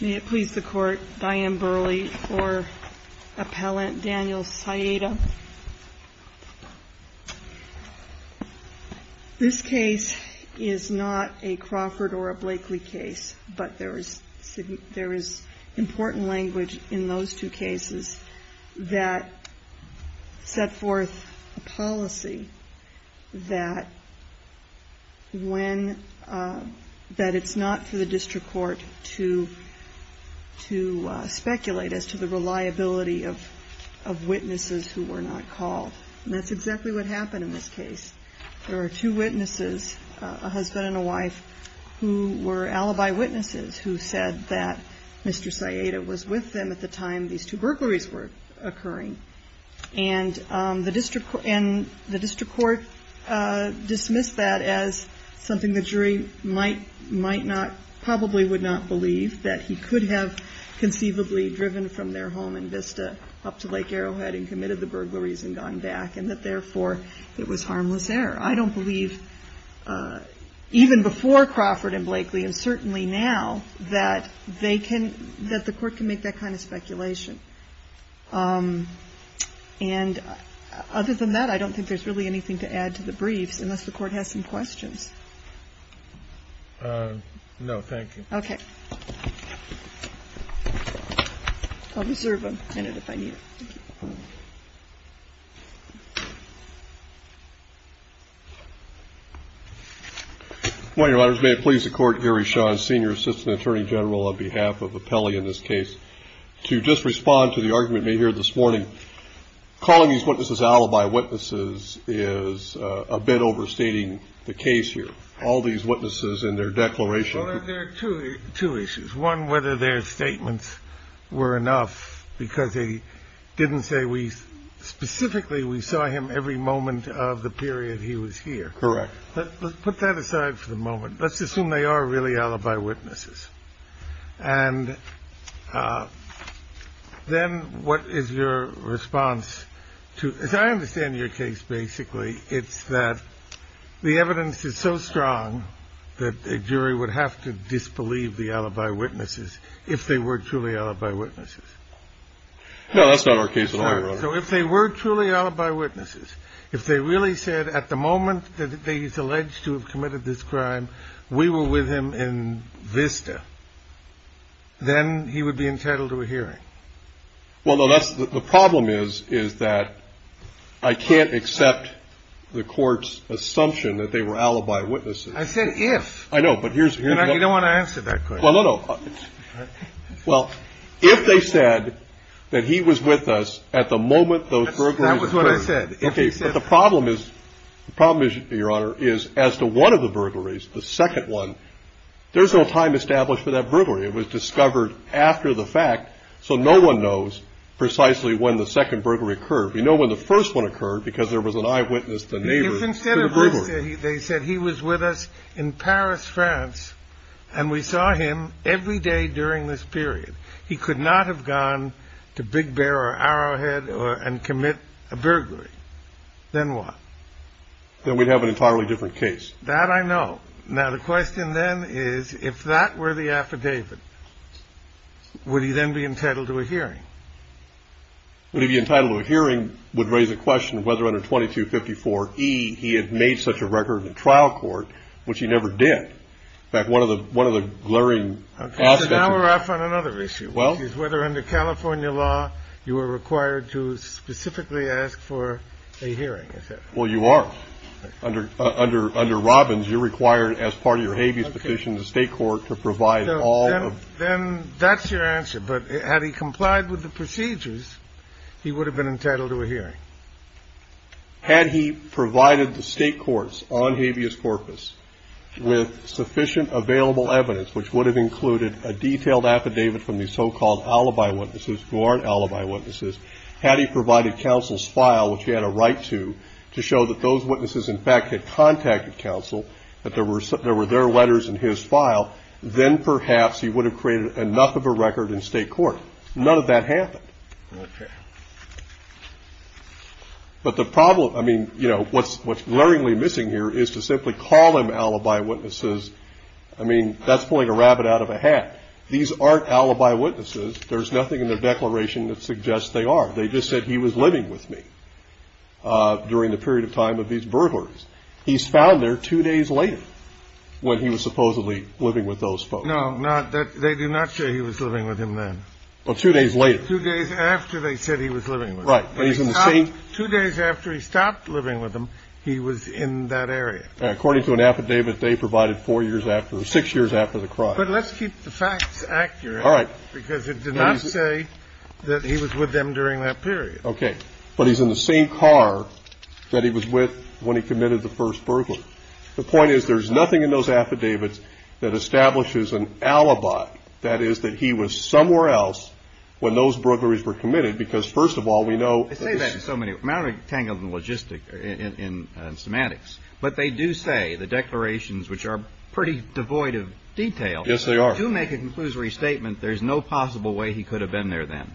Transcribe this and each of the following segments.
May it please the Court, Diane Burley for Appellant Daniel Saitta. This case is not a Crawford or a Blakely case, but there is important language in those two cases, and it is not for the District Court to speculate as to the reliability of witnesses who were not called. And that's exactly what happened in this case. There are two witnesses, a husband and a wife, who were alibi witnesses who said that Mr. Saitta was with them at the time these two burglaries were occurring. And the District Court dismissed that as something the jury might not, probably would not believe, that he could have conceivably driven from their home in Vista up to Lake Arrowhead and committed the burglaries and gone back, and that, therefore, it was harmless error. I don't believe, even before Crawford and Blakely, and certainly now, that they can – that the Court can make that kind of speculation. And other than that, I don't think there's really anything to add to the briefs, unless the Court has some questions. No, thank you. Okay. I'll reserve a minute if I need it. Thank you. Well, Your Honors, may it please the Court, Gary Shawn, Senior Assistant Attorney General, on behalf of Appellee in this case, to just respond to the argument made here this morning. Calling these witnesses alibi witnesses is a bit overstating the case here. All these witnesses and their declarations – Well, there are two issues. One, whether their statements were enough, because they didn't say we – specifically, we saw him every moment of the period he was here. Correct. Let's put that aside for the moment. Let's assume they are really alibi witnesses. And then, what is your response to – as I understand your case, basically, it's that the evidence is so strong that a jury would have to disbelieve the alibi witnesses if they were truly alibi witnesses. No, that's not our case at all, Your Honor. So if they were truly alibi witnesses, if they really said at the moment that he's with him in Vista, then he would be entitled to a hearing. Well, no, that's – the problem is, is that I can't accept the Court's assumption that they were alibi witnesses. I said if. I know, but here's – You don't want to answer that question. Well, no, no. Well, if they said that he was with us at the moment those burglaries occurred – That was what I said. Okay, but the problem is – the problem is, Your Honor, is as to one of the burglaries, the second one, there's no time established for that burglary. It was discovered after the fact, so no one knows precisely when the second burglary occurred. We know when the first one occurred because there was an eyewitness, the neighbor, to the burglary. If instead of Vista, they said he was with us in Paris, France, and we saw him every day during this period, he could not have gone to Big Bear or Arrowhead and commit a crime. Then what? Then we'd have an entirely different case. That I know. Now, the question then is, if that were the affidavit, would he then be entitled to a hearing? Would he be entitled to a hearing would raise a question whether under 2254e he had made such a record in trial court, which he never did. In fact, one of the – one of the glaring aspects of that – Okay, so now we're off on another issue, which is whether under California law you are required to specifically ask for a hearing, is that right? Well, you are. Under Robbins, you're required as part of your habeas petition to state court to provide all of – So then that's your answer. But had he complied with the procedures, he would have been entitled to a hearing. Had he provided the state courts on habeas corpus with sufficient available evidence, which would have included a detailed affidavit from the so-called alibi witnesses, who aren't alibi witnesses, had he provided counsel's file, which he had a right to, to show that those witnesses, in fact, had contacted counsel, that there were their letters in his file, then perhaps he would have created enough of a record in state court. None of that happened. Okay. But the problem – I mean, you know, what's glaringly missing here is to simply call them alibi witnesses. I mean, that's pulling a rabbit out of a hat. These aren't alibi witnesses. There's nothing in the declaration that suggests they are. They just said he was living with me during the period of time of these burglaries. He's found there two days later when he was supposedly living with those folks. No, not – they do not say he was living with them then. Well, two days later. Two days after they said he was living with them. Right. But he's in the same – Two days after he stopped living with them, he was in that area. According to an affidavit they provided four years after – six years after the crime. But let's keep the facts accurate. All right. Because it did not say that he was with them during that period. Okay. But he's in the same car that he was with when he committed the first burglary. The point is, there's nothing in those affidavits that establishes an alibi. That is, that he was somewhere else when those burglaries were committed. Because, first of all, we know – I say that in so many – I'm not going to get tangled in logistic – in semantics. But they do say, the declarations, which are pretty devoid of detail – Yes, they are. They do make a conclusory statement, there's no possible way he could have been there then.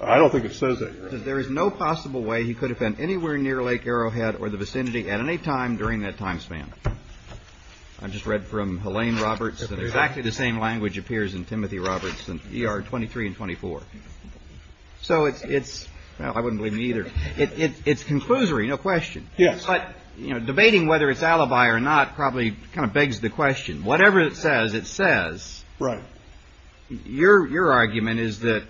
I don't think it says that. It says, there is no possible way he could have been anywhere near Lake Arrowhead or the vicinity at any time during that time span. I just read from Helene Roberts that exactly the same language appears in Timothy Roberts in ER 23 and 24. So it's – well, I wouldn't believe me either. It's conclusory, no question. Yes. But, you know, debating whether it's alibi or not probably kind of begs the question. Whatever it says, it says. Right. Your argument is that,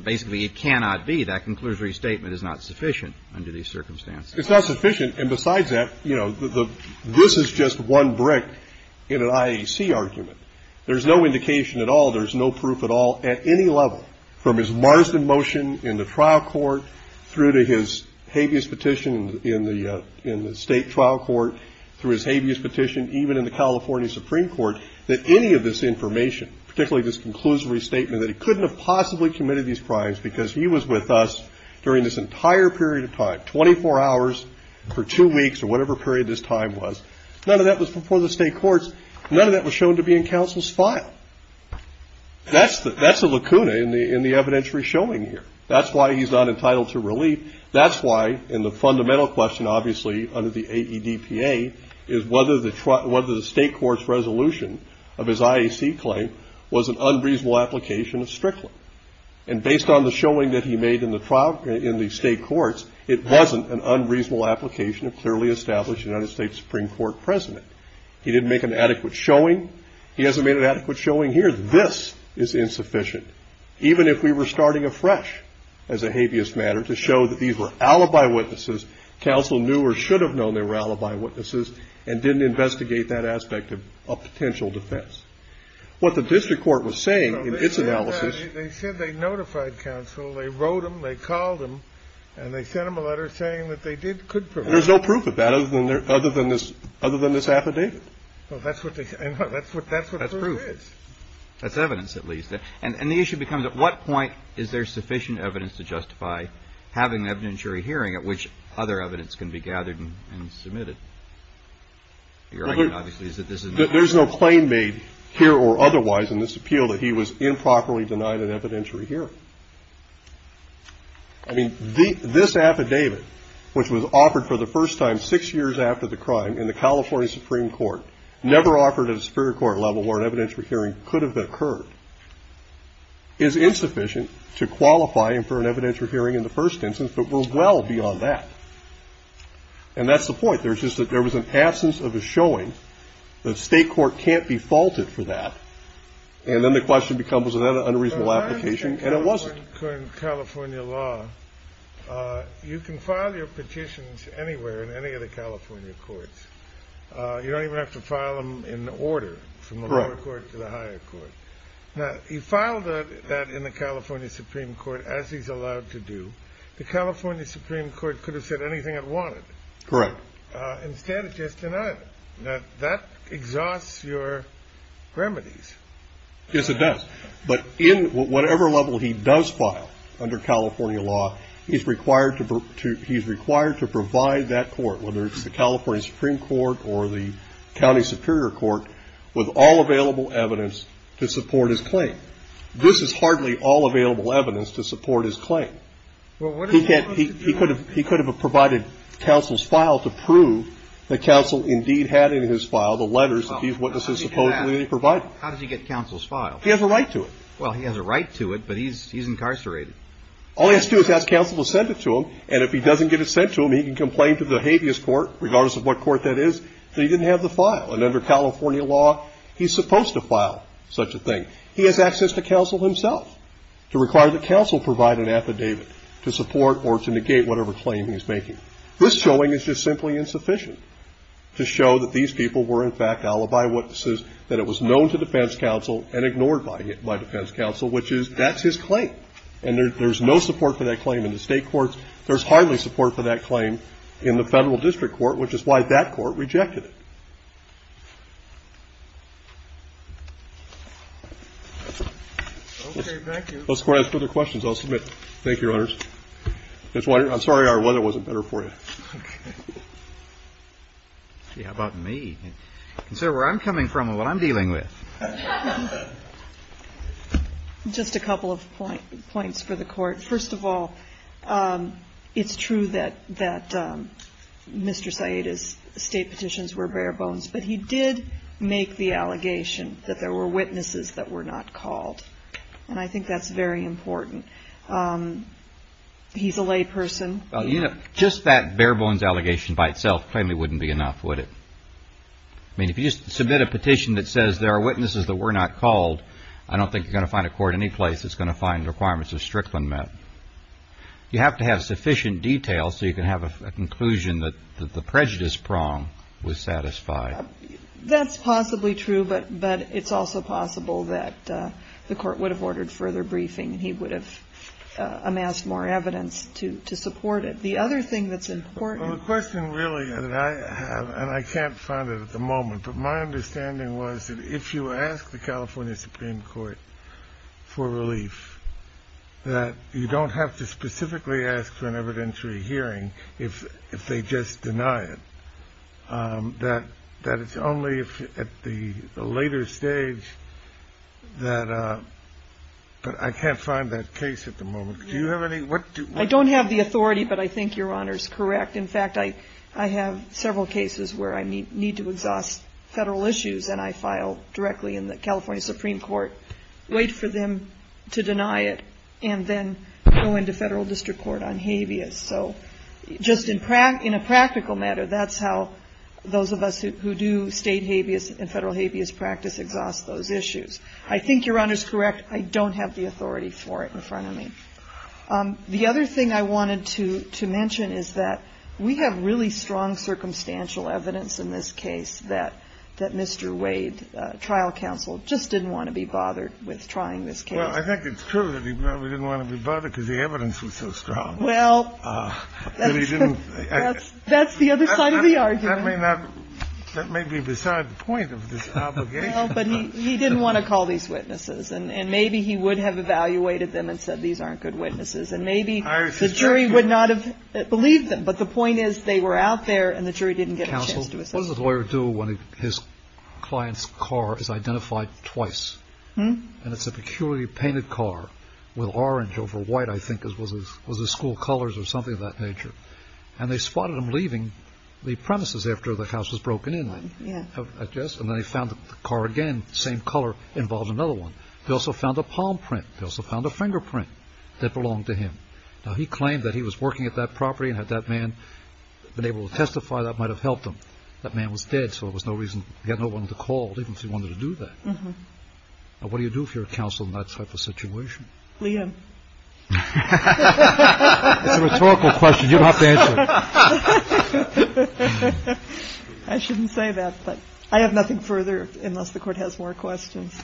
basically, it cannot be. That conclusory statement is not sufficient under these circumstances. It's not sufficient. And besides that, you know, this is just one brick in an IAC argument. There's no indication at all, there's no proof at all, at any level, from his Marsden motion in the trial court through to his habeas petition in the state trial court, through his habeas petition even in the California Supreme Court, that any of this information, particularly this conclusory statement that he couldn't have possibly committed these crimes because he was with us during this entire period of time, 24 hours for two weeks or whatever period this time was, none of that was before the state courts, none of that was shown to be in counsel's file. That's the lacuna in the evidentiary showing here. That's why he's not entitled to relief. That's why in the fundamental question, obviously, under the AEDPA, is whether the state court's resolution of his IAC claim was an unreasonable application of Strickland. And based on the showing that he made in the state courts, it wasn't an unreasonable application of clearly established United States Supreme Court President. He didn't make an adequate showing. He hasn't made an adequate showing here. This is insufficient. Even if we were starting afresh as a habeas matter to show that these were alibi witnesses, counsel knew or should have known they were alibi witnesses and didn't investigate that aspect of potential defense. What the district court was saying in its analysis... They said they notified counsel, they wrote him, they called him, and they sent him a letter saying that they could prove it. There's no proof of that other than this affidavit. That's what the proof is. That's evidence at least. And the issue becomes, at what point is there sufficient evidence to justify having an evidentiary hearing at which other evidence can be gathered and submitted? Your argument, obviously, is that this is not... There's no claim made here or otherwise in this appeal that he was improperly denied an evidentiary hearing. I mean, this affidavit, which was offered for the first time six years after the crime in the California Supreme Court, never offered at a superior court level where an evidentiary hearing could have occurred, is insufficient to qualify for an evidentiary hearing in the first instance, but we're well beyond that. And that's the point. There was an absence of a showing that state court can't be faulted for that. And then the question becomes, was that an unreasonable application? And it wasn't. In California law, you can file your petitions anywhere in any of the California courts. You don't even have to file them in order from the lower court to the higher court. Now, he filed that in the California Supreme Court as he's allowed to do. The California Supreme Court could have said anything it wanted. Correct. Instead, it just denied it. Now, that exhausts your remedies. Yes, it does. But in whatever level he does file under California law, he's required to provide that court, whether it's the California Supreme Court or the County Superior Court, with all available evidence to support his claim. This is hardly all available evidence to support his claim. He could have provided counsel's file to prove that counsel indeed had in his file the letters that he supposedly provided. How did he get counsel's file? He has a right to it. Well, he has a right to it, but he's incarcerated. All he has to do is ask counsel to send it to him, and if he doesn't get it sent to him, he can complain to the habeas court, regardless of what court that is, that he didn't have the file. And under California law, he's supposed to file such a thing. He has access to counsel himself to require that counsel provide an affidavit to support or to negate whatever claim he's making. This showing is just simply insufficient to show that these people were, in fact, alibi witnesses, that it was known to defense counsel and ignored by defense counsel, which is, that's his claim. And there's no support for that claim in the state courts. There's hardly support for that claim in the federal district court, which is why that court rejected it. Okay, thank you. If the Court has further questions, I'll submit. Thank you, Your Honors. I'm sorry our weather wasn't better for you. Okay. Yeah, about me. Consider where I'm coming from and what I'm dealing with. Just a couple of points for the Court. First of all, it's true that Mr. Saita's state petitions were bare bones, but he did make the allegation that there were witnesses that were not called. And I think that's very important. He's a lay person. Well, you know, just that bare bones allegation by itself plainly wouldn't be enough, would it? I mean, if you just submit a petition that says there are witnesses, that were not called, I don't think you're going to find a court in any place that's going to find requirements of Strickland met. You have to have sufficient detail so you can have a conclusion that the prejudice prong was satisfied. That's possibly true, but it's also possible that the Court would have ordered further briefing and he would have amassed more evidence to support it. The other thing that's important... Well, the question really that I have, and I can't find it at the moment, but my understanding was that if you ask the California Supreme Court for relief, that you don't have to specifically ask for an evidentiary hearing if they just deny it. That it's only at the later stage that... But I can't find that case at the moment. Do you have any... I don't have the authority, but I think Your Honor's correct. In fact, I have several cases where I need to exhaust federal issues and I file directly in the California Supreme Court, wait for them to deny it, and then go into federal district court on habeas. So just in a practical matter, that's how those of us who do state habeas and federal habeas practice exhaust those issues. I think Your Honor's correct. I don't have the authority for it in front of me. The other thing I wanted to mention is that we have really strong circumstantial evidence in this case that Mr. Wade, trial counsel, just didn't want to be bothered with trying this case. Well, I think it's true that he probably didn't want to be bothered because the evidence was so strong. Well, that's the other side of the argument. That may be beside the point of this obligation. Well, but he didn't want to call these witnesses, and maybe he would have evaluated them and said these aren't good witnesses, and maybe the jury would not have believed them. But the point is they were out there and the jury didn't get a chance to assess them. Counsel, what does a lawyer do when his client's car is identified twice? And it's a peculiarly painted car with orange over white, I think, as was the school colors or something of that nature. And they spotted him leaving the premises after the house was broken in on. And then they found the car again, same color, involved another one. They also found a palm print. They also found a fingerprint that belonged to him. Now, he claimed that he was working at that property and had that man been able to testify that might have helped him. That man was dead, so there was no reason, he had no one to call even if he wanted to do that. Now, what do you do if you're a counsel in that type of situation? Leigh Ann. It's a rhetorical question. You don't have to answer it. I shouldn't say that, but I have nothing further unless the Court has more questions.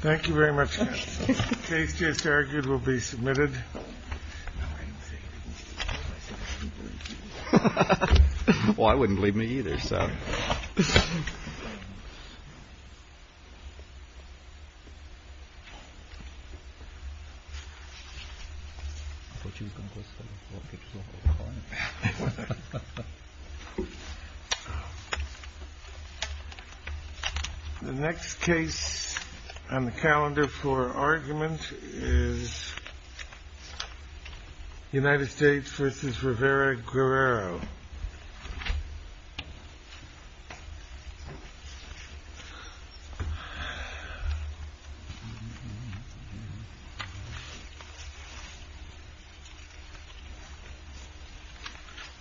Thank you very much. The case just argued will be submitted. Well, I wouldn't leave me either. So. The next case on the calendar for argument is United States versus Rivera Guerrero. Thank you.